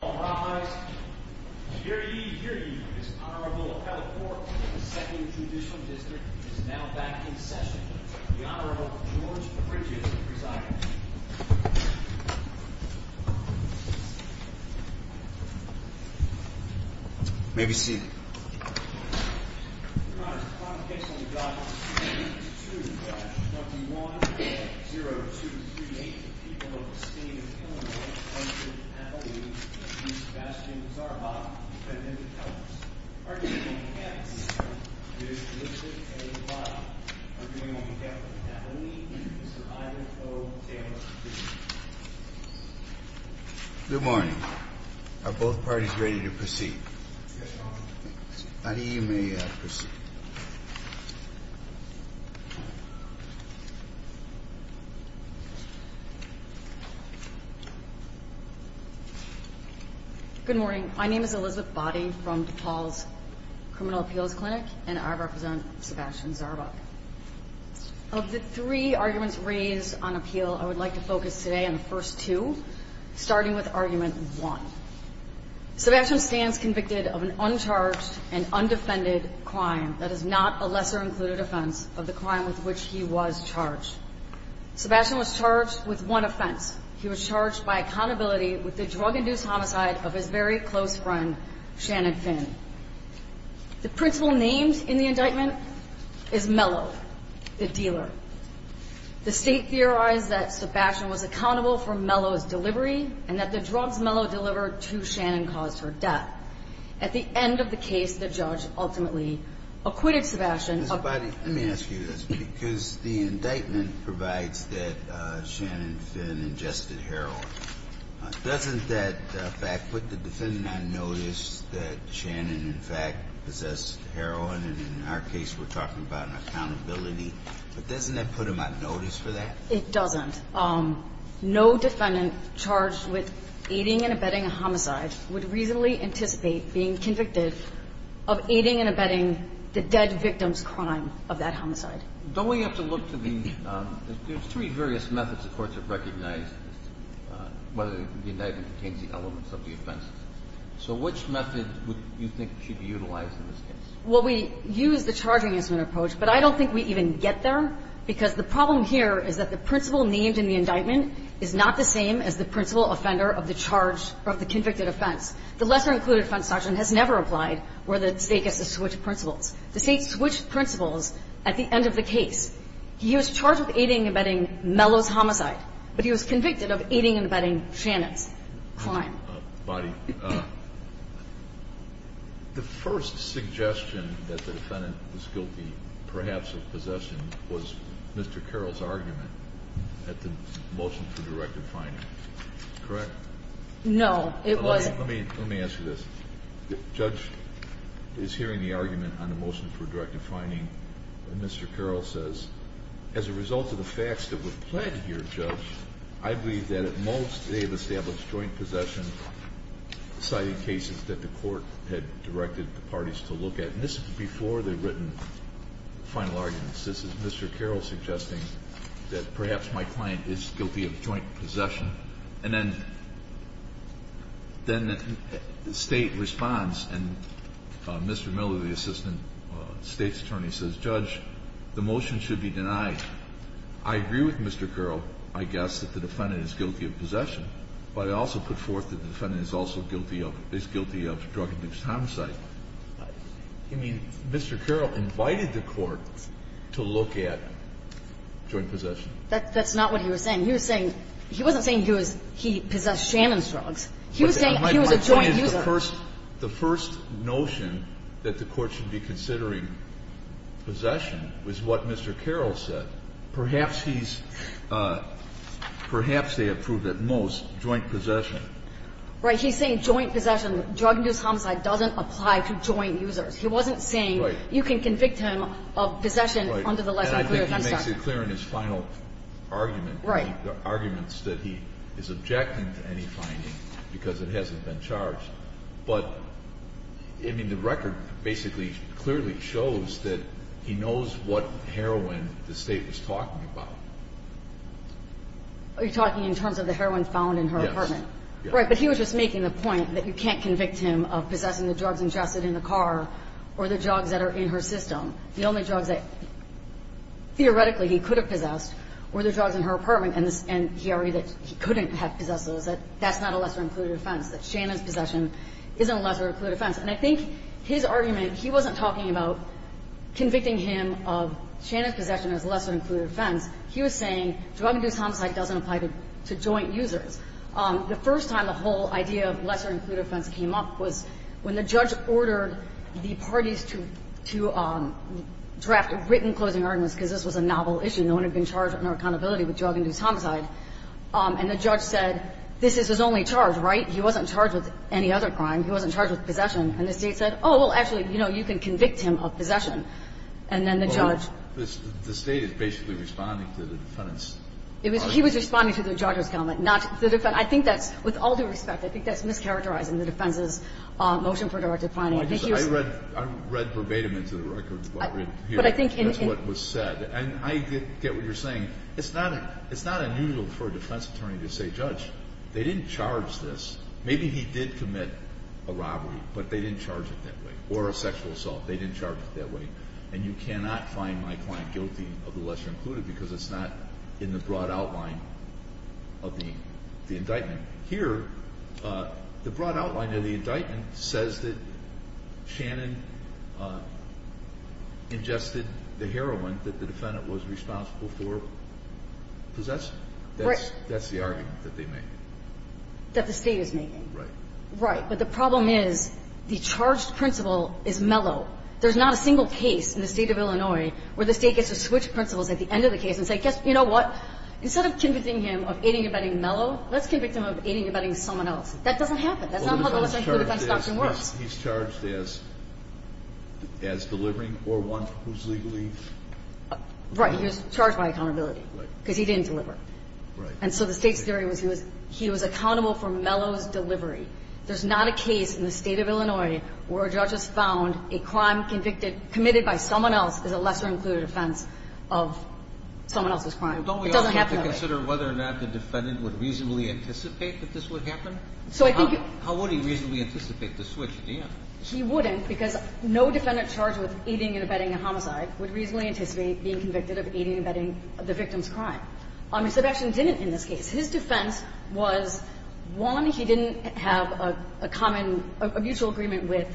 All rise. Here ye, here ye, this Honorable Appellate Court of the 2nd Judicial District is now back in session. The Honorable George Bridges presiding. May be seated. Your Honor, the provocation we've got is 2-21-0238, the people of the state of Illinois v. Appellate v. Sebastian Zarbock, defendant of Kellogg's. Arguing on behalf of Mr. Richard A. Lott, arguing on behalf of Appellate v. Mr. Ivan O. Taylor. Good morning. Are both parties ready to proceed? Yes, Your Honor. Body, you may proceed. Good morning. My name is Elizabeth Body from DePaul's Criminal Appeals Clinic, and I represent Sebastian Zarbock. Of the three arguments raised on appeal, I would like to focus today on the first two, starting with Argument 1. Sebastian stands convicted of an uncharged and undefended crime that is not a lesser included offense of the crime with which he was charged. Sebastian was charged with one offense. He was charged by accountability with the drug-induced homicide of his very close friend, Shannon Finn. The principal named in the indictment is Mello, the dealer. The State theorized that Sebastian was accountable for Mello's delivery and that the drugs Mello delivered to Shannon caused her death. At the end of the case, the judge ultimately acquitted Sebastian of the crime. Ms. Body, let me ask you this, because the indictment provides that Shannon Finn ingested heroin. Doesn't that fact put the defendant on notice that Shannon, in fact, possessed heroin? And in our case, we're talking about an accountability. But doesn't that put him on notice for that? It doesn't. No defendant charged with aiding and abetting a homicide would reasonably anticipate being convicted of aiding and abetting the dead victim's crime of that homicide. Don't we have to look to the – there's three various methods the courts have recognized whether the indictment contains the elements of the offenses. So which method would you think should be utilized in this case? Well, we use the charging instrument approach, but I don't think we even get there, because the problem here is that the principal named in the indictment is not the same as the principal offender of the charge of the convicted offense. The lesser-included offense doctrine has never applied where the State gets to switch principles. The State switched principles at the end of the case. He was charged with aiding and abetting Mello's homicide, but he was convicted of aiding and abetting Shannon's crime. Bonnie, the first suggestion that the defendant was guilty perhaps of possession was Mr. Carroll's argument at the motion for directive finding. Correct? No, it wasn't. Let me ask you this. The judge is hearing the argument on the motion for directive finding, and Mr. Carroll says, as a result of the facts that were pledged here, I believe that at most they have established joint possession, citing cases that the Court had directed the parties to look at. And this was before they had written the final arguments. This is Mr. Carroll suggesting that perhaps my client is guilty of joint possession. And then the State responds, and Mr. Mello, the assistant State's attorney, says, Judge, the motion should be denied. I agree with Mr. Carroll, I guess, that the defendant is guilty of possession, but I also put forth that the defendant is also guilty of drug-induced homicide. You mean Mr. Carroll invited the Court to look at joint possession? That's not what he was saying. He was saying he wasn't saying he was he possessed Shannon's drugs. He was saying he was a joint user. The first notion that the Court should be considering possession was what Mr. Carroll said. Perhaps he's – perhaps they have proved at most joint possession. Right. He's saying joint possession. Drug-induced homicide doesn't apply to joint users. He wasn't saying you can convict him of possession under the legislation. Right. And I think he makes it clear in his final argument. Right. I mean, there are arguments that he is objecting to any finding because it hasn't been charged. But, I mean, the record basically clearly shows that he knows what heroin the State was talking about. Are you talking in terms of the heroin found in her apartment? Yes. Right. But he was just making the point that you can't convict him of possessing the drugs ingested in the car or the drugs that are in her system. The only drugs that theoretically he could have possessed were the drugs in her apartment. And he argued that he couldn't have possessed those, that that's not a lesser-included offense, that Shannon's possession isn't a lesser-included offense. And I think his argument, he wasn't talking about convicting him of Shannon's possession as a lesser-included offense. He was saying drug-induced homicide doesn't apply to joint users. The first time the whole idea of lesser-included offense came up was when the judge ordered the parties to draft written closing arguments because this was a novel issue. No one had been charged under accountability with drug-induced homicide. And the judge said, this is his only charge, right? He wasn't charged with any other crime. He wasn't charged with possession. And the State said, oh, well, actually, you know, you can convict him of possession. And then the judge Well, the State is basically responding to the defendant's argument. He was responding to the judge's comment, not the defendant. I think that's, with all due respect, I think that's mischaracterizing the defense's motion for direct defining. I think he was I read verbatim into the record what was said. And I get what you're saying. It's not unusual for a defense attorney to say, judge, they didn't charge this. Maybe he did commit a robbery, but they didn't charge it that way. Or a sexual assault. They didn't charge it that way. And you cannot find my client guilty of the lesser-included because it's not in the broad outline of the indictment. Here, the broad outline of the indictment says that Shannon ingested the heroin that the defendant was responsible for possessing. Right. That's the argument that they make. That the State is making. Right. Right. But the problem is the charged principle is mellow. There's not a single case in the State of Illinois where the State gets to switch principles at the end of the case and say, guess what? Instead of convicting him of aiding and abetting mellow, let's convict him of aiding and abetting someone else. That doesn't happen. That's not how the lesser-included defense doctrine works. He's charged as delivering or one who's legally? Right. He was charged by accountability. Right. Because he didn't deliver. Right. And so the State's theory was he was accountable for mellow's delivery. There's not a case in the State of Illinois where a judge has found a crime convicted committed by someone else is a lesser-included offense of someone else's crime. It doesn't happen that way. Don't we also have to consider whether or not the defendant would reasonably anticipate that this would happen? So I think you're How would he reasonably anticipate the switch at the end? He wouldn't because no defendant charged with aiding and abetting a homicide would reasonably anticipate being convicted of aiding and abetting the victim's crime. Sebastian didn't in this case. His defense was, one, he didn't have a common, a mutual agreement with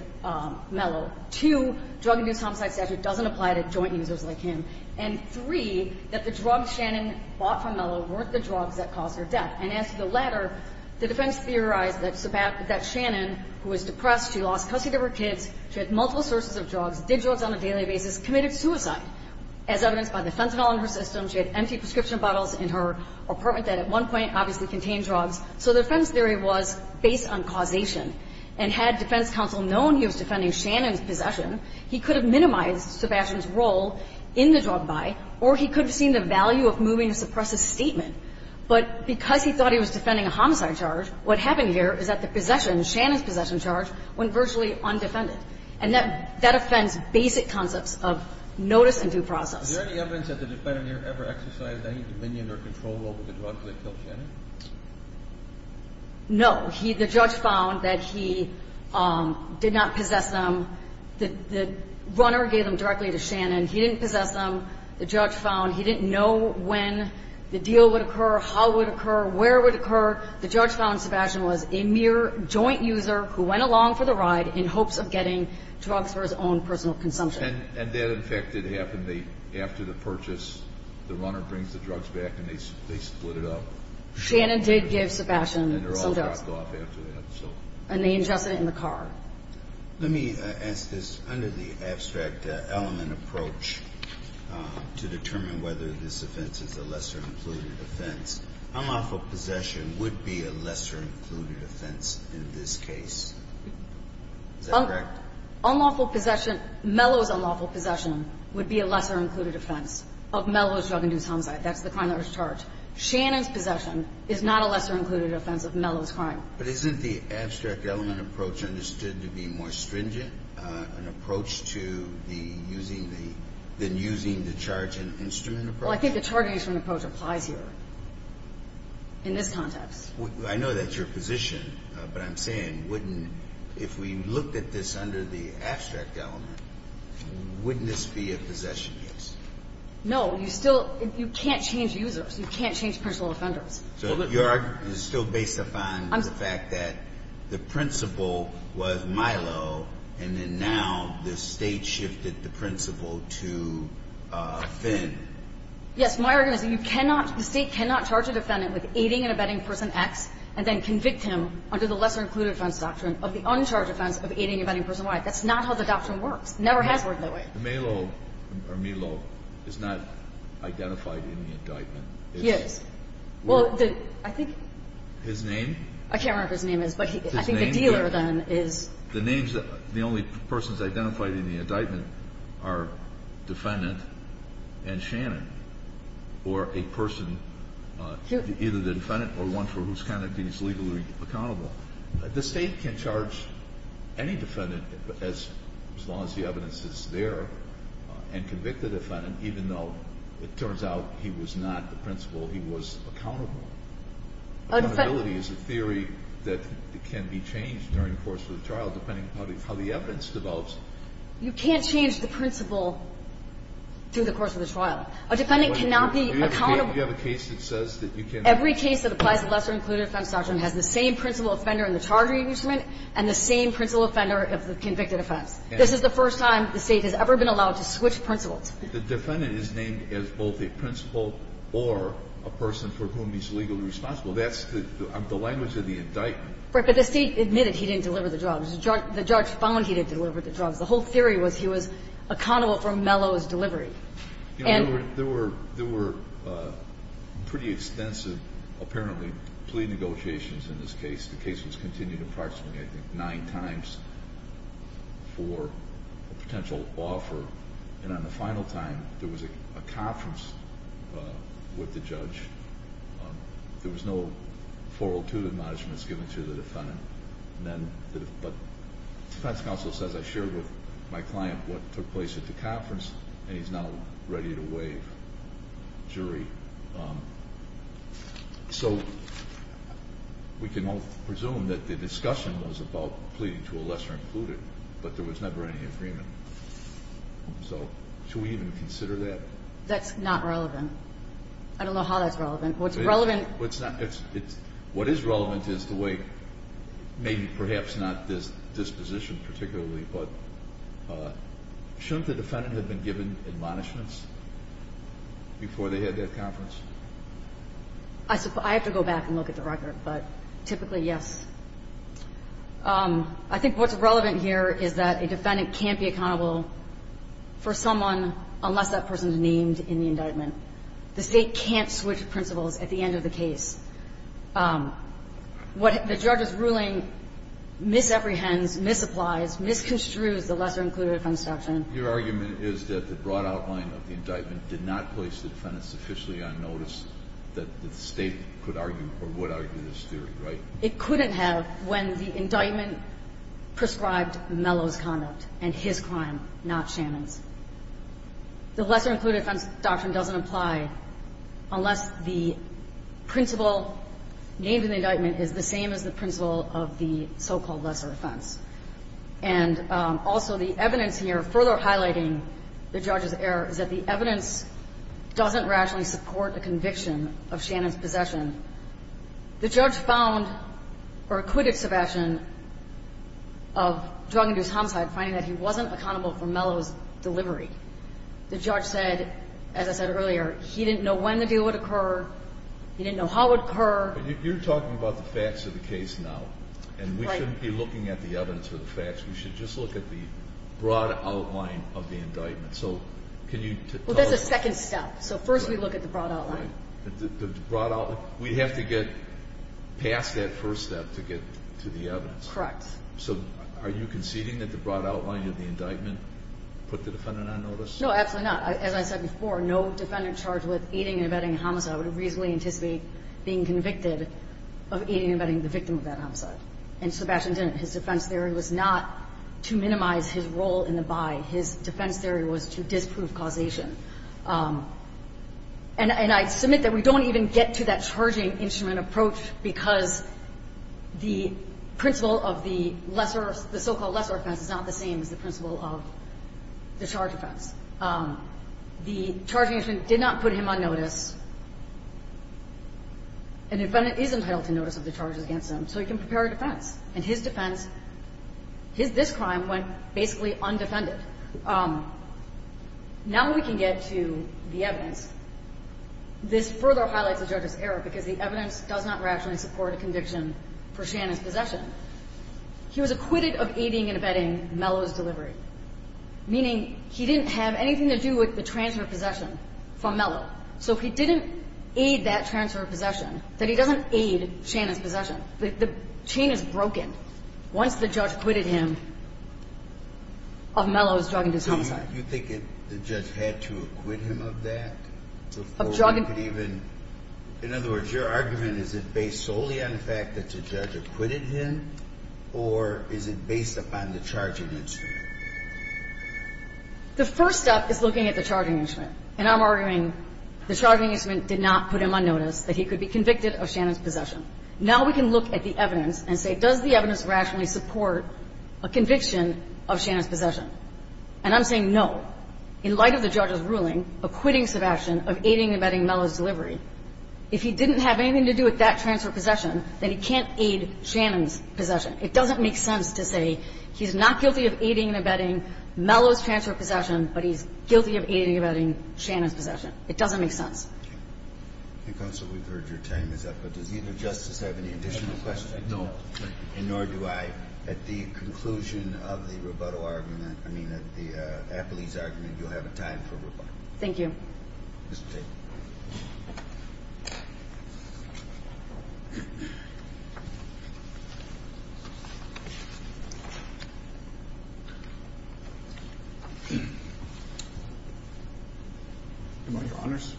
mellow. Two, drug abuse homicide statute doesn't apply to joint users like him. And three, that the drugs Shannon bought from mellow weren't the drugs that caused her death. And as to the latter, the defense theorized that Shannon, who was depressed, she lost custody of her kids, she had multiple sources of drugs, did drugs on a daily basis, committed suicide. As evidenced by the fentanyl in her system, she had empty prescription bottles in her apartment that at one point obviously contained drugs. So the defense theory was based on causation. And had defense counsel known he was defending Shannon's possession, he could have minimized Sebastian's role in the drug buy, or he could have seen the value of moving a suppressive statement. But because he thought he was defending a homicide charge, what happened here is that the possession, Shannon's possession charge, went virtually undefended. And that offends basic concepts of notice and due process. Is there any evidence that the defendant here ever exercised any dominion or control over the drugs that killed Shannon? No. The judge found that he did not possess them. The runner gave them directly to Shannon. He didn't possess them. The judge found he didn't know when the deal would occur, how it would occur, where it would occur. The judge found Sebastian was a mere joint user who went along for the ride in hopes of getting drugs for his own personal consumption. And that, in fact, did happen. After the purchase, the runner brings the drugs back and they split it up? Shannon did give Sebastian some drugs. And they're all dropped off after that, so. And they ingested it in the car. Let me ask this. Under the abstract element approach to determine whether this offense is a lesser included offense, unlawful possession would be a lesser included offense in this case. Is that correct? Unlawful possession, Mellow's unlawful possession would be a lesser included offense of Mellow's drug-induced homicide. That's the crime that was charged. Shannon's possession is not a lesser included offense of Mellow's crime. But isn't the abstract element approach understood to be more stringent, an approach to the using the charge and instrument approach? Well, I think the charge and instrument approach applies here in this context. I know that's your position. But I'm saying wouldn't, if we looked at this under the abstract element, wouldn't this be a possession case? No. You still, you can't change users. You can't change personal offenders. So your argument is still based upon the fact that the principle was Mellow, and then now the State shifted the principle to Finn. Yes. My argument is you cannot, the State cannot charge a defendant with aiding and abetting person X and then convict him under the lesser included offense doctrine of the uncharged offense of aiding and abetting person Y. That's not how the doctrine works. It never has worked that way. Mellow or Mellow is not identified in the indictment. He is. Well, I think. His name? I can't remember who his name is. His name? I think the dealer then is. The names, the only persons identified in the indictment are defendant and Shannon or a person, either the defendant or one for whose conduct he is legally accountable. The State can charge any defendant as long as the evidence is there and convict the defendant even though it turns out he was not the principal, he was accountable. Accountability is a theory that can be changed during the course of the trial depending on how the evidence develops. You can't change the principle through the course of the trial. A defendant cannot be accountable. Do you have a case that says that you can't? Every case that applies the lesser included offense doctrine has the same principal offender in the charging instrument and the same principal offender of the convicted offense. This is the first time the State has ever been allowed to switch principals. The defendant is named as both a principal or a person for whom he is legally responsible. That's the language of the indictment. But the State admitted he didn't deliver the drugs. The judge found he didn't deliver the drugs. The whole theory was he was accountable for Mello's delivery. There were pretty extensive, apparently, plea negotiations in this case. The case was continued approximately, I think, nine times for a potential offer. And on the final time, there was a conference with the judge. There was no 402 admonishments given to the defendant. But the defense counsel says, I shared with my client what took place at the conference, and he's now ready to waive jury. So we can all presume that the discussion was about pleading to a lesser included, but there was never any agreement. So should we even consider that? That's not relevant. I don't know how that's relevant. What's relevant is the way, maybe perhaps not this disposition particularly, but shouldn't the defendant have been given admonishments before they had that conference? I have to go back and look at the record, but typically, yes. I think what's relevant here is that a defendant can't be accountable for someone unless that person is named in the indictment. The State can't switch principles at the end of the case. What the judge's ruling misapprehends, misapplies, misconstrues the lesser included offense section. Your argument is that the broad outline of the indictment did not place the defendant sufficiently on notice that the State could argue or would argue this theory, right? It couldn't have when the indictment prescribed Mello's conduct and his crime, not Shannon's. The lesser included offense doctrine doesn't apply unless the principle named in the indictment is the same as the principle of the so-called lesser offense. And also the evidence here, further highlighting the judge's error, is that the evidence doesn't rationally support the conviction of Shannon's possession. The judge found or acquitted Sebastian of drug-induced homicide, finding that he wasn't accountable for Mello's delivery. The judge said, as I said earlier, he didn't know when the deal would occur. He didn't know how it would occur. But you're talking about the facts of the case now, and we shouldn't be looking at the evidence or the facts. We should just look at the broad outline of the indictment. So can you tell us? Well, that's a second step. So first we look at the broad outline. The broad outline. We have to get past that first step to get to the evidence. Correct. So are you conceding that the broad outline of the indictment put the defendant on notice? No, absolutely not. As I said before, no defendant charged with aiding and abetting a homicide would reasonably anticipate being convicted of aiding and abetting the victim of that homicide. And Sebastian didn't. His defense theory was not to minimize his role in the buy. His defense theory was to disprove causation. And I submit that we don't even get to that charging instrument approach because the principle of the lesser, the so-called lesser offense is not the same as the principle of the charge offense. The charging instrument did not put him on notice. An defendant is entitled to notice of the charges against him, so he can prepare a defense. And his defense, his this crime went basically undefended. But now we can get to the evidence. This further highlights the judge's error because the evidence does not rationally support a conviction for Shannon's possession. He was acquitted of aiding and abetting Mello's delivery, meaning he didn't have anything to do with the transfer of possession from Mello. So if he didn't aid that transfer of possession, then he doesn't aid Shannon's possession. The chain is broken. We have the argument that the charge was based solely on the fact that Mello was So now we have a case in which Mello was drugging his home side, once the judge acquitted him of Mello's drugging his home side. You think the judge had to acquit him of that before we could even ---- Of drugging. It was based solely on the fact that the judge acquitted him, or is it based upon the charging instrument? The first step is looking at the charging instrument. And I'm arguing the charging instrument did not put him on notice, that he could be convicted of Shannon's possession. Now we can look at the evidence and say, does the evidence rationally support a conviction of Shannon's possession? And I'm saying no. In light of the judge's ruling acquitting Sebastian of aiding and abetting Mello's transfer of possession, then he can't aid Shannon's possession. It doesn't make sense to say he's not guilty of aiding and abetting Mello's transfer of possession, but he's guilty of aiding and abetting Shannon's possession. It doesn't make sense. Okay. Counsel, we've heard your time is up, but does either justice have any additional questions? No. And nor do I. At the conclusion of the Roboto argument, I mean, at the Appley's argument, you'll have time for Roboto. Thank you. Mr. Tate. Your Honors.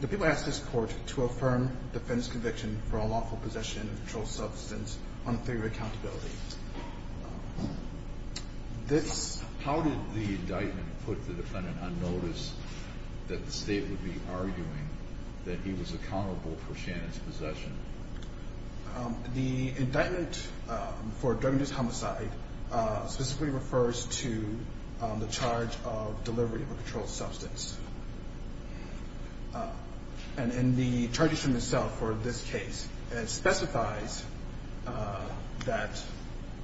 The people asked this Court to affirm defense conviction for a lawful possession of a controlled substance on a theory of accountability. How did the indictment put the defendant on notice that the State would be arguing that he was accountable for Shannon's possession? The indictment for drug abuse homicide specifically refers to the charge of delivery of a controlled substance. And in the charges from the cell for this case, it specifies that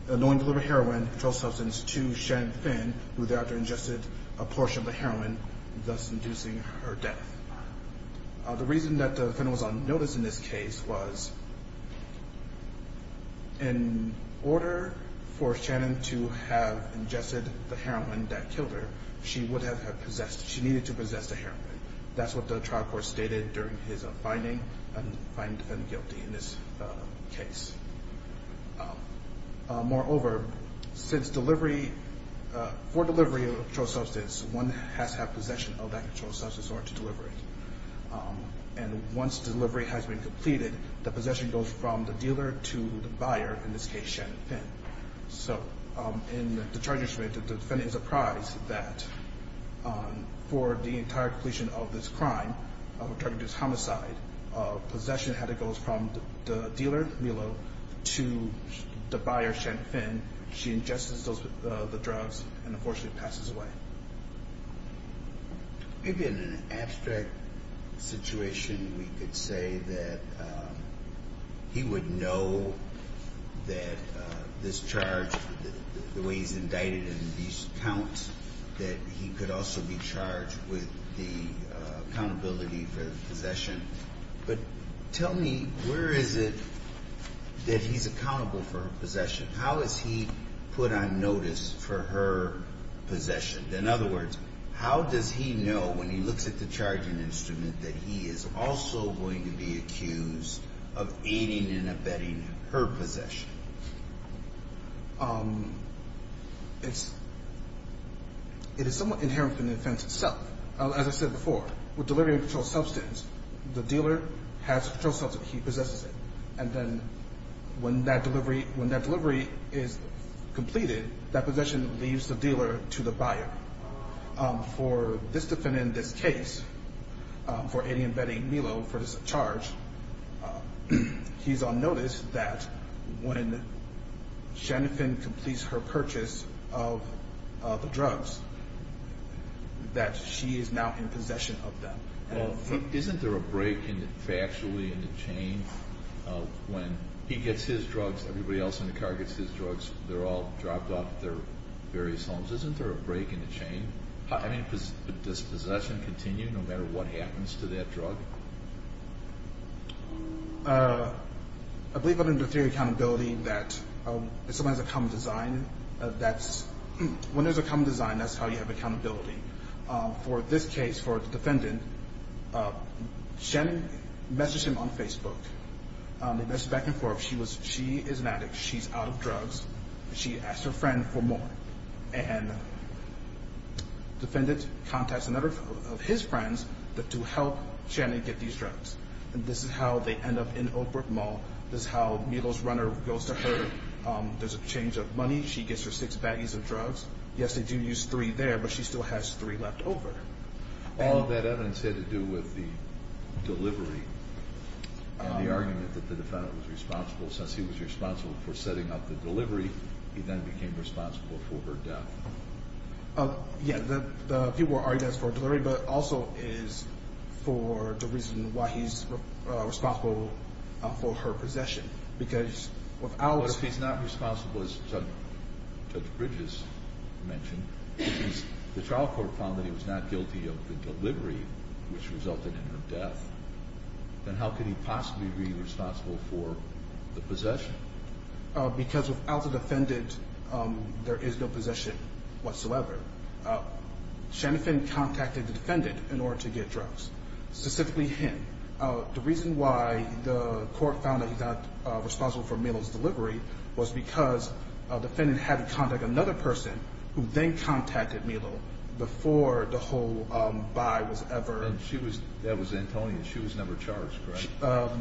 the law would deliver heroin, a controlled substance, to Shannon Finn, who thereafter ingested a portion of the heroin, thus inducing her death. The reason that the defendant was on notice in this case was in order for Shannon to have ingested the heroin that killed her, she would have had possessed the heroin. That's what the trial court stated during his finding and finding the defendant guilty in this case. Moreover, since delivery, for delivery of a controlled substance, one has to have possession of that controlled substance in order to deliver it. And once delivery has been completed, the possession goes from the dealer to the buyer, in this case, Shannon Finn. So in the charges made, the defendant is apprised that for the entire completion of this crime of a drug abuse homicide, possession had to go from the dealer, Milo, to the buyer, Shannon Finn. She ingests the drugs and unfortunately passes away. Maybe in an abstract situation we could say that he would know that this charge, the way he's indicted in these counts, that he could also be charged with the accountability for possession. But tell me, where is it that he's accountable for possession? How is he put on notice for her possession? In other words, how does he know when he looks at the charging instrument that he is also going to be accused of aiding and abetting her possession? It is somewhat inherent in the offense itself. As I said before, with delivery of a controlled substance, the dealer has controlled substance. He possesses it. And then when that delivery is completed, that possession leaves the dealer to the buyer. For this defendant in this case, for aiding and abetting Milo for this charge, he's on notice that when Shannon Finn completes her purchase of the drugs, that she is now in possession of them. Well, isn't there a break factually in the chain when he gets his drugs, everybody else in the car gets his drugs, they're all dropped off at their various homes? Isn't there a break in the chain? I mean, does possession continue no matter what happens to that drug? I believe under the theory of accountability that if someone has a common design, when there's a common design, that's how you have accountability. For this case, for the defendant, Shannon messaged him on Facebook. They messaged back and forth. She is an addict. She's out of drugs. She asked her friend for more. And the defendant contacts another of his friends to help Shannon get these drugs. And this is how they end up in Oakbrook Mall. This is how Milo's runner goes to her. There's a change of money. She gets her six baggies of drugs. Yes, they do use three there, but she still has three left over. All of that evidence had to do with the delivery and the argument that the defendant was responsible. Since he was responsible for setting up the delivery, he then became responsible for her death. Yeah, the people were arguing that it was for delivery, but also it is for the reason why he's responsible for her possession. Because without – as Judge Bridges mentioned, the trial court found that he was not guilty of the delivery, which resulted in her death. Then how could he possibly be responsible for the possession? Because without the defendant, there is no possession whatsoever. Shannon contacted the defendant in order to get drugs, specifically him. The reason why the court found that he's not responsible for Milo's delivery was because the defendant had to contact another person who then contacted Milo before the whole buy was ever – That was Antonia. She was never charged, correct?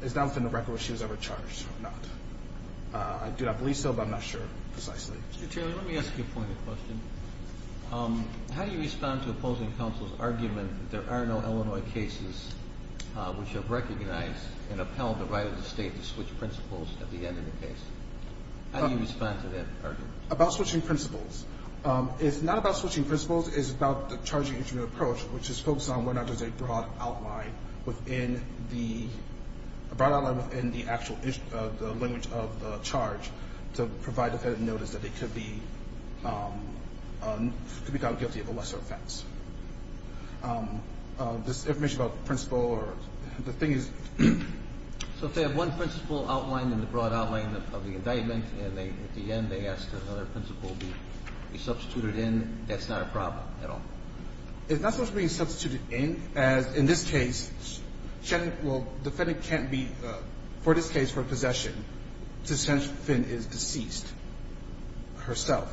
It's not within the record whether she was ever charged or not. I do not believe so, but I'm not sure precisely. Mr. Taylor, let me ask you a pointed question. How do you respond to opposing counsel's argument that there are no Illinois cases which have recognized and upheld the right of the State to switch principles at the end of the case? How do you respond to that argument? About switching principles. It's not about switching principles. It's about the charging instrument approach, which is focused on whether or not there's a broad outline within the – a broad outline within the actual language of the charge to provide the defendant notice that they could be – could be found guilty of a lesser offense. This information about the principle or – the thing is – So if they have one principle outlined in the broad outline of the indictment and they – at the end they ask that another principle be substituted in, that's not a problem at all? It's not supposed to be substituted in, as in this case, the defendant can't be – for this case, for possession, to sentence Finn is deceased herself.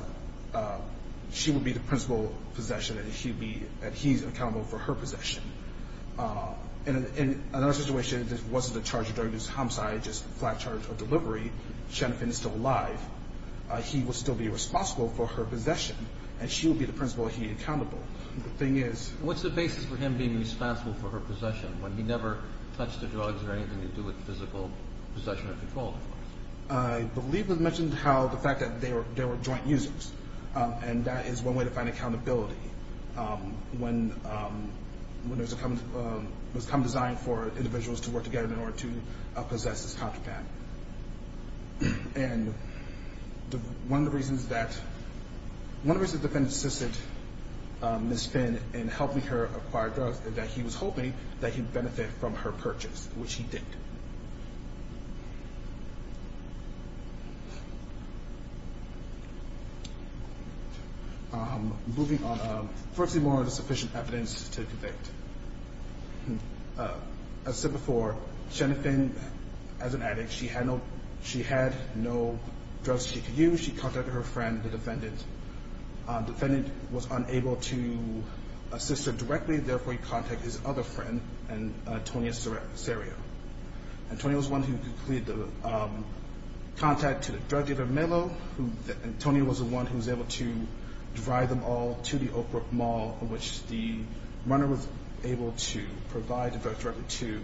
She would be the principal possession and she would be – that he's accountable for her possession. In another situation, if this wasn't a charge of drug abuse homicide, just flat charge or delivery, Shannon Finn is still alive. He would still be responsible for her possession and she would be the principal he accountable. The thing is – What's the basis for him being responsible for her possession when he never touched the drugs or anything to do with physical possession or control? I believe it was mentioned how the fact that they were joint users and that is one way to find accountability when there was a common design for individuals to work together in order to possess this contraband. And one of the reasons that – one of the reasons the defendant assisted Ms. Finn in helping her acquire drugs is that he was hoping that he'd benefit from her purchase, which he didn't. Thank you. Moving on. First of all, is there sufficient evidence to convict? As said before, Shannon Finn, as an addict, she had no drugs she could use. She contacted her friend, the defendant. The defendant was unable to assist her directly, therefore he contacted his other friend, Antonia Serio. Antonia was the one who completed the contact to the drug dealer Melo. Antonia was the one who was able to drive them all to the Oakbrook Mall, in which the runner was able to provide the drug to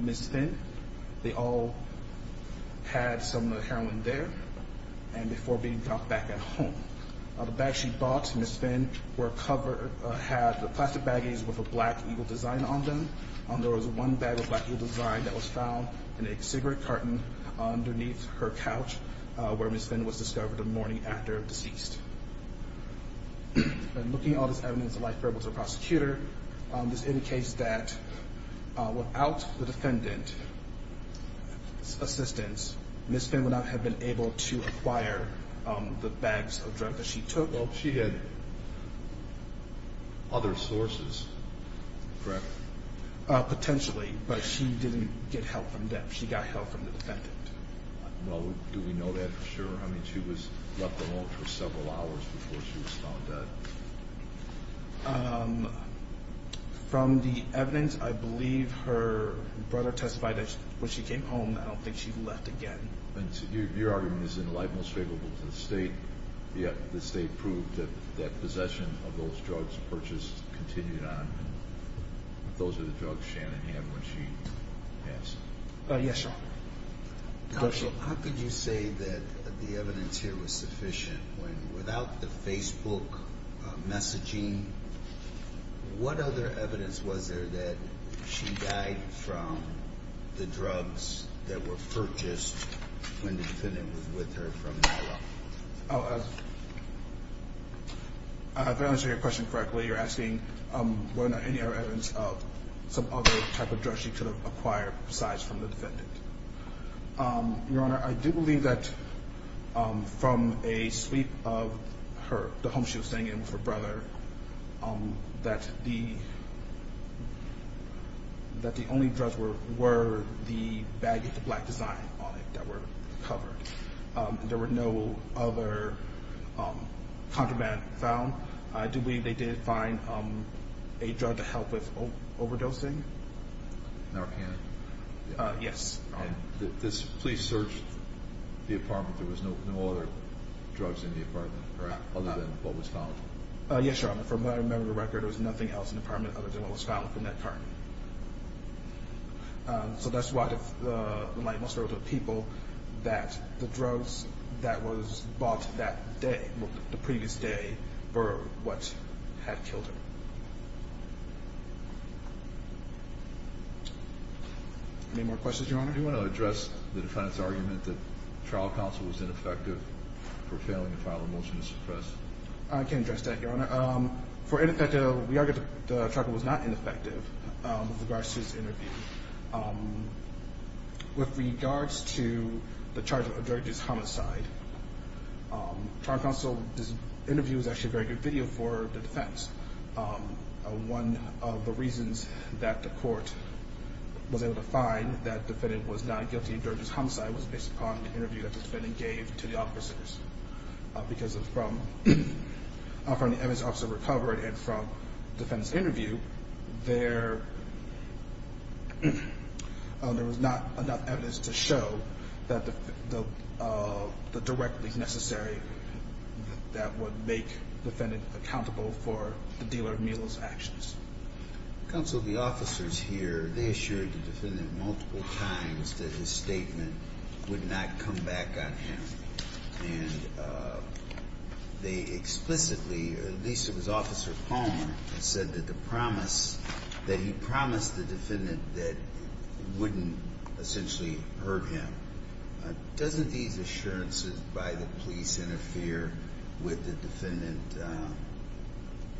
Ms. Finn. They all had some heroin there and before being dropped back at home. The bags she bought Ms. Finn were covered – had the plastic baggies with a black eagle design on them. There was one bag with a black eagle design that was found in a cigarette carton underneath her couch where Ms. Finn was discovered the morning after deceased. Looking at all this evidence, the life variables of the prosecutor, this indicates that without the defendant's assistance, Ms. Finn would not have been able to acquire the bags of drugs that she took. Well, she had other sources, correct? Potentially, but she didn't get help from them. She got help from the defendant. Well, do we know that for sure? I mean, she was left alone for several hours before she was found dead. From the evidence, I believe her brother testified that when she came home, I don't think she left again. Your argument is in the light most favorable to the state, yet the state proved that possession of those drugs purchased continued on. Those are the drugs Shannon had when she passed. Yes, sir. How could you say that the evidence here was sufficient when without the Facebook messaging, what other evidence was there that she died from the drugs that were purchased when the defendant was with her from NYLA? If I'm answering your question correctly, you're asking whether or not any other evidence of some other type of drugs she could have acquired besides from the defendant. Your Honor, I do believe that from a sweep of her, the home she was staying in with her brother, that the only drugs were the bag with the black design on it that were covered. There were no other contraband found. I do believe they did find a drug to help with overdosing. Narcan? Yes. This police searched the apartment. There was no other drugs in the apartment other than what was found? Yes, Your Honor. From what I remember of the record, there was nothing else in the apartment other than what was found from that apartment. So that's why the light most favorable to the people that the drugs that was bought that day, the previous day, were what had killed her. Any more questions, Your Honor? Your Honor, do you want to address the defendant's argument that trial counsel was ineffective for failing to file a motion to suppress? I can address that, Your Honor. We argue that the charge was not ineffective with regards to this interview. With regards to the charge of a drug use homicide, trial counsel's interview was actually a very good video for the defense. One of the reasons that the court was able to find that the defendant was not guilty of drug use homicide was based upon the interview that the defendant gave to the officers. Because from the evidence the officer recovered and from the defendant's interview, there was not enough evidence to show the direct link necessary that would make the defendant accountable for the dealer of mule's actions. Counsel, the officers here, they assured the defendant multiple times that his statement would not come back on him. And they explicitly, at least it was Officer Palmer, that said that he promised the defendant that it wouldn't essentially hurt him. Doesn't these assurances by the police interfere with the defendant,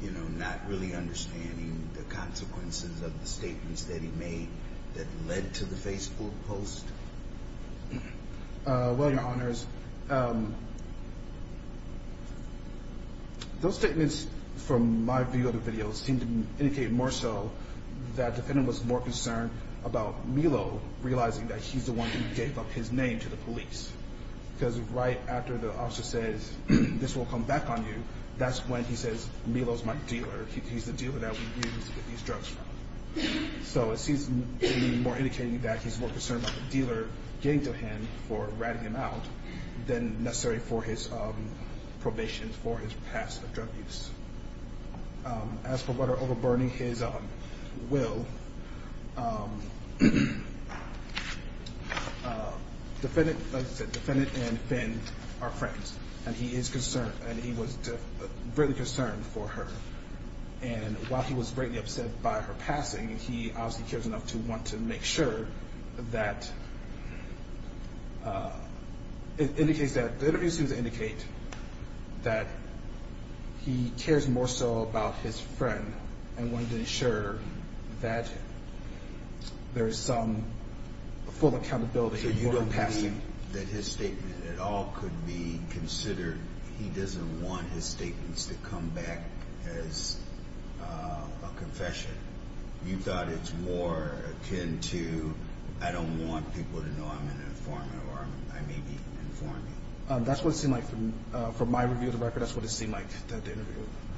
you know, not really understanding the consequences of the statements that he made that led to the Facebook post? Well, Your Honors, those statements from my view of the video seem to indicate more so that the defendant was more concerned about Milo realizing that he's the one who gave up his name to the police. Because right after the officer says, this will come back on you, that's when he says Milo's my dealer, he's the dealer that we use to get these drugs from. So it seems to me more indicating that he's more concerned about the dealer getting to him for ratting him out than necessary for his probation for his past drug use. As for whether overburning his will, the defendant and Finn are friends. And he is concerned, and he was really concerned for her. And while he was greatly upset by her passing, he obviously cares enough to want to make sure that it indicates that, the interview seems to indicate that he cares more so about his friend and wanted to ensure that there is some full accountability for her passing. So you don't believe that his statement at all could be considered, he doesn't want his statements to come back as a confession. You thought it's more akin to, I don't want people to know I'm an informer or I may be informing. That's what it seemed like from my review of the record, that's what it seemed like.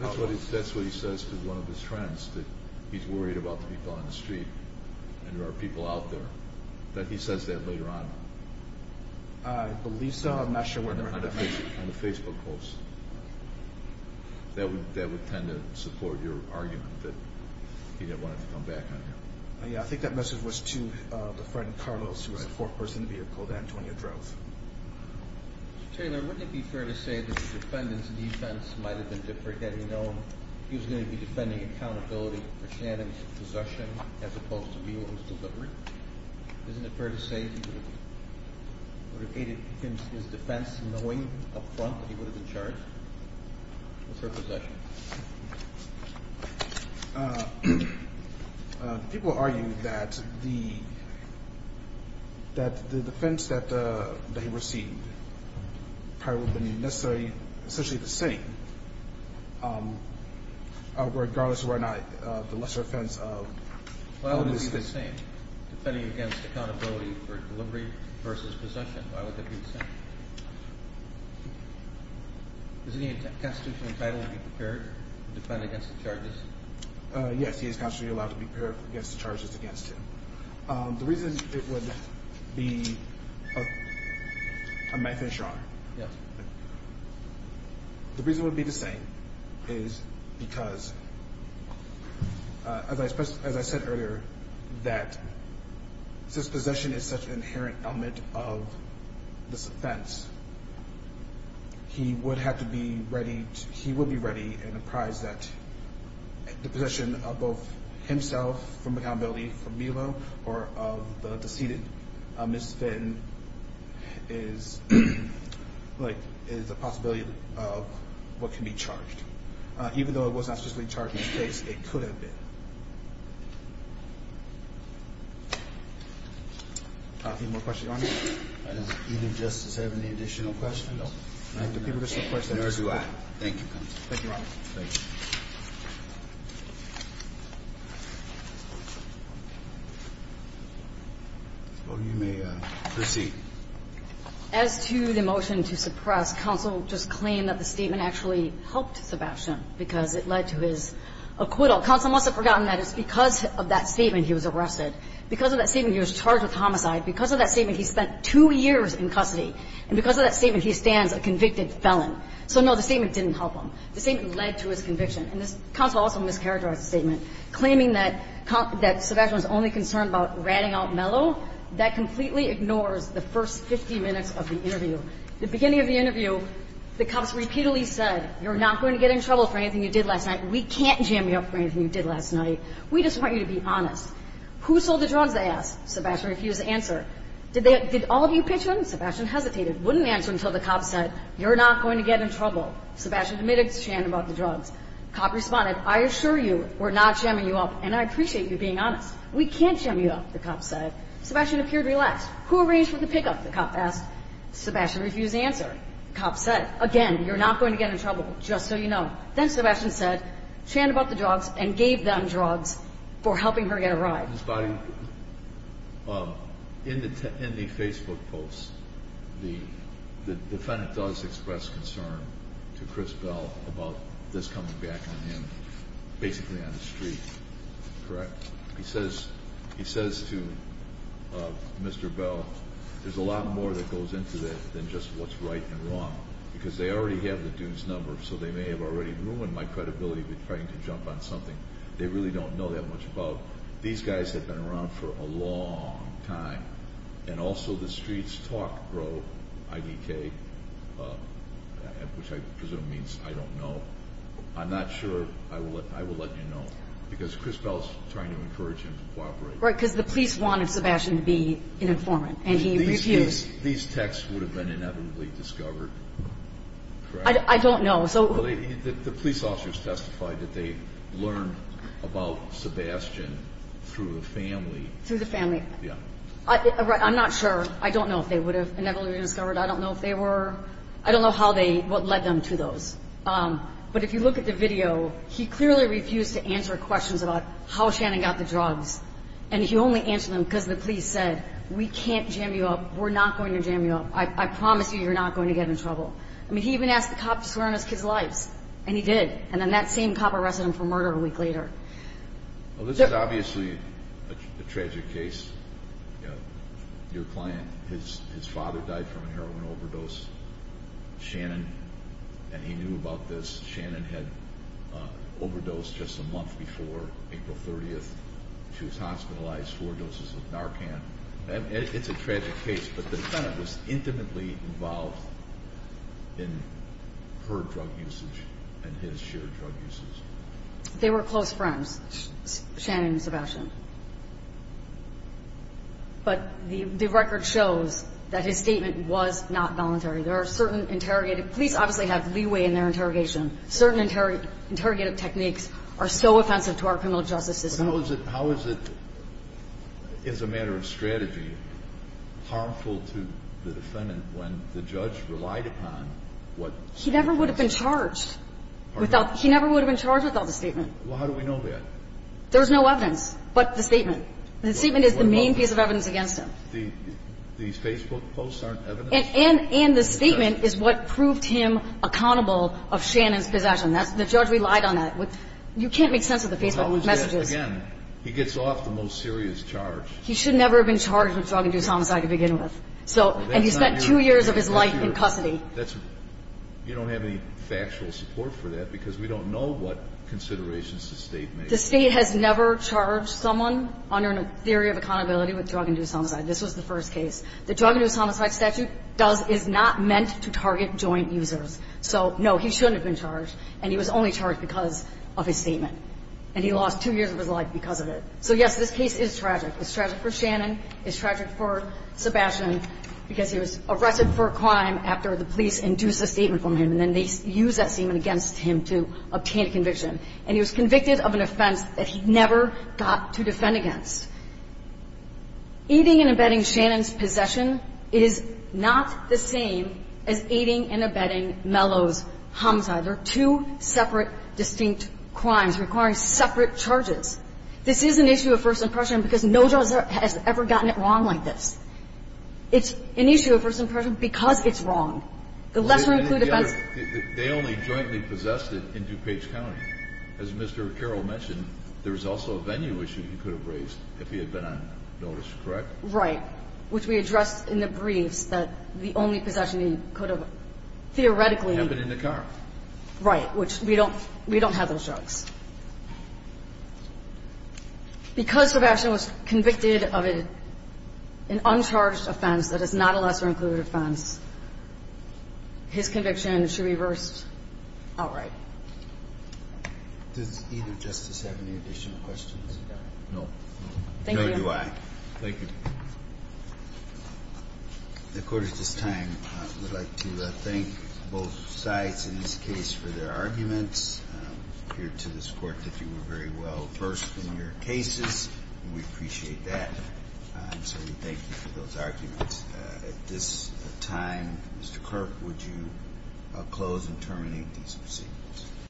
That's what he says to one of his friends, that he's worried about the people on the street and there are people out there. That he says that later on. I believe so, I'm not sure. On the Facebook post. That would tend to support your argument that he didn't want it to come back on him. Yeah, I think that message was to the friend Carlos, who was a four-person vehicle that Antonia drove. Mr. Taylor, wouldn't it be fair to say that the defendant's defense might have been different had he known he was going to be defending accountability for Shannon's possession as opposed to Mule's delivery? Isn't it fair to say he would have aided his defense knowing up front that he would have been charged with her possession? People argue that the defense that he received probably would have been essentially the same, regardless of whether or not the lesser offense of Mule is the same. Defending against accountability for delivery versus possession, why would that be the same? Does he have constitutional entitlement to be prepared to defend against the charges? Yes, he is constitutionally allowed to be prepared against the charges against him. The reason it would be the same is because, as I said earlier, that since possession is such an inherent element of this offense, he would be ready and apprised that the possession of both himself from accountability for Mule or of the deceited Ms. Finn is a possibility of what can be charged. Even though it was not specifically charged in this case, it could have been. Are there any more questions? I don't think Justice has any additional questions. No. Can I ask the people to submit questions? Nor do I. Thank you, counsel. Thank you, Robert. Thank you. You may proceed. As to the motion to suppress, counsel just claimed that the statement actually helped Sebastian because it led to his acquittal. Counsel must have forgotten that it's because of that statement he was arrested. Because of that statement, he was charged with homicide. Because of that statement, he spent two years in custody. And because of that statement, he stands a convicted felon. So, no, the statement didn't help him. The statement led to his conviction. And counsel also mischaracterized the statement, claiming that Sebastian was only concerned about ratting out Mello. That completely ignores the first 50 minutes of the interview. The beginning of the interview, the cops repeatedly said, you're not going to get in trouble for anything you did last night. We can't jam you up for anything you did last night. We just want you to be honest. Who sold the drugs, they asked. Sebastian refused to answer. Did all of you pitch in? Sebastian hesitated. Wouldn't answer until the cops said, you're not going to get in trouble. Sebastian admitted to shaming about the drugs. The cop responded, I assure you, we're not jamming you up. And I appreciate you being honest. We can't jam you up, the cop said. Sebastian appeared relaxed. Who arranged for the pickup, the cop asked. Sebastian refused to answer. The cop said, again, you're not going to get in trouble, just so you know. Then Sebastian said, channeled about the drugs, and gave them drugs for helping her get a ride. Ms. Biden, in the Facebook post, the defendant does express concern to Chris Bell about this coming back on him, basically on the street, correct? He says to Mr. Bell, there's a lot more that goes into that than just what's right and wrong, because they already have the Dunes number, so they may have already ruined my credibility by trying to jump on something they really don't know that much about. These guys have been around for a long time, and also the streets talk grow IDK, which I presume means I don't know. I'm not sure. I will let you know, because Chris Bell is trying to encourage him to cooperate. Right, because the police wanted Sebastian to be an informant, and he refused. These texts would have been inevitably discovered, correct? I don't know. The police officers testified that they learned about Sebastian through the family. Through the family. Yeah. I'm not sure. I don't know if they would have inevitably been discovered. I don't know if they were. I don't know what led them to those. But if you look at the video, he clearly refused to answer questions about how Shannon got the drugs, and he only answered them because the police said, we can't jam you up, we're not going to jam you up, I promise you you're not going to get in trouble. I mean, he even asked the cop to swear on his kids' lives, and he did, and then that same cop arrested him for murder a week later. Well, this is obviously a tragic case. Your client, his father died from a heroin overdose. Shannon, and he knew about this. Shannon had overdosed just a month before, April 30th. She was hospitalized, four doses of Narcan. It's a tragic case, but the defendant was intimately involved in her drug usage and his shared drug usage. They were close friends, Shannon and Sebastian. But the record shows that his statement was not voluntary. There are certain interrogative – police obviously have leeway in their interrogation. Certain interrogative techniques are so offensive to our criminal justice system. But how is it, as a matter of strategy, harmful to the defendant when the judge relied upon what – He never would have been charged. He never would have been charged without the statement. Well, how do we know that? There's no evidence but the statement. The statement is the main piece of evidence against him. These Facebook posts aren't evidence? And the statement is what proved him accountable of Shannon's possession. The judge relied on that. You can't make sense of the Facebook messages. Again, he gets off the most serious charge. He should never have been charged with drug and juice homicide to begin with. And he spent two years of his life in custody. You don't have any factual support for that because we don't know what considerations the state makes. The state has never charged someone under a theory of accountability with drug and juice homicide. This was the first case. The drug and juice homicide statute does – is not meant to target joint users. So, no, he shouldn't have been charged. And he was only charged because of his statement. And he lost two years of his life because of it. So, yes, this case is tragic. It's tragic for Shannon. It's tragic for Sebastian because he was arrested for a crime after the police induced a statement from him. And then they used that statement against him to obtain a conviction. And he was convicted of an offense that he never got to defend against. Aiding and abetting Shannon's possession is not the same as aiding and abetting Mello's homicide. They're two separate, distinct crimes requiring separate charges. This is an issue of first impression because no judge has ever gotten it wrong like this. It's an issue of first impression because it's wrong. The lesser-included offense – As Mr. Carroll mentioned, there was also a venue issue he could have raised if he had been on notice, correct? Right, which we addressed in the briefs that the only possession he could have theoretically – Have been in the car. Right, which we don't – we don't have those drugs. Because Sebastian was convicted of an uncharged offense that is not a lesser-included offense, his conviction should be reversed outright. Does either Justice have any additional questions? No. Thank you. Nor do I. Thank you. The Court at this time would like to thank both sides in this case for their arguments here to this Court that you were very well versed in your cases, and we appreciate that. And so we thank you for those arguments. At this time, Mr. Clerk, would you close and terminate these proceedings?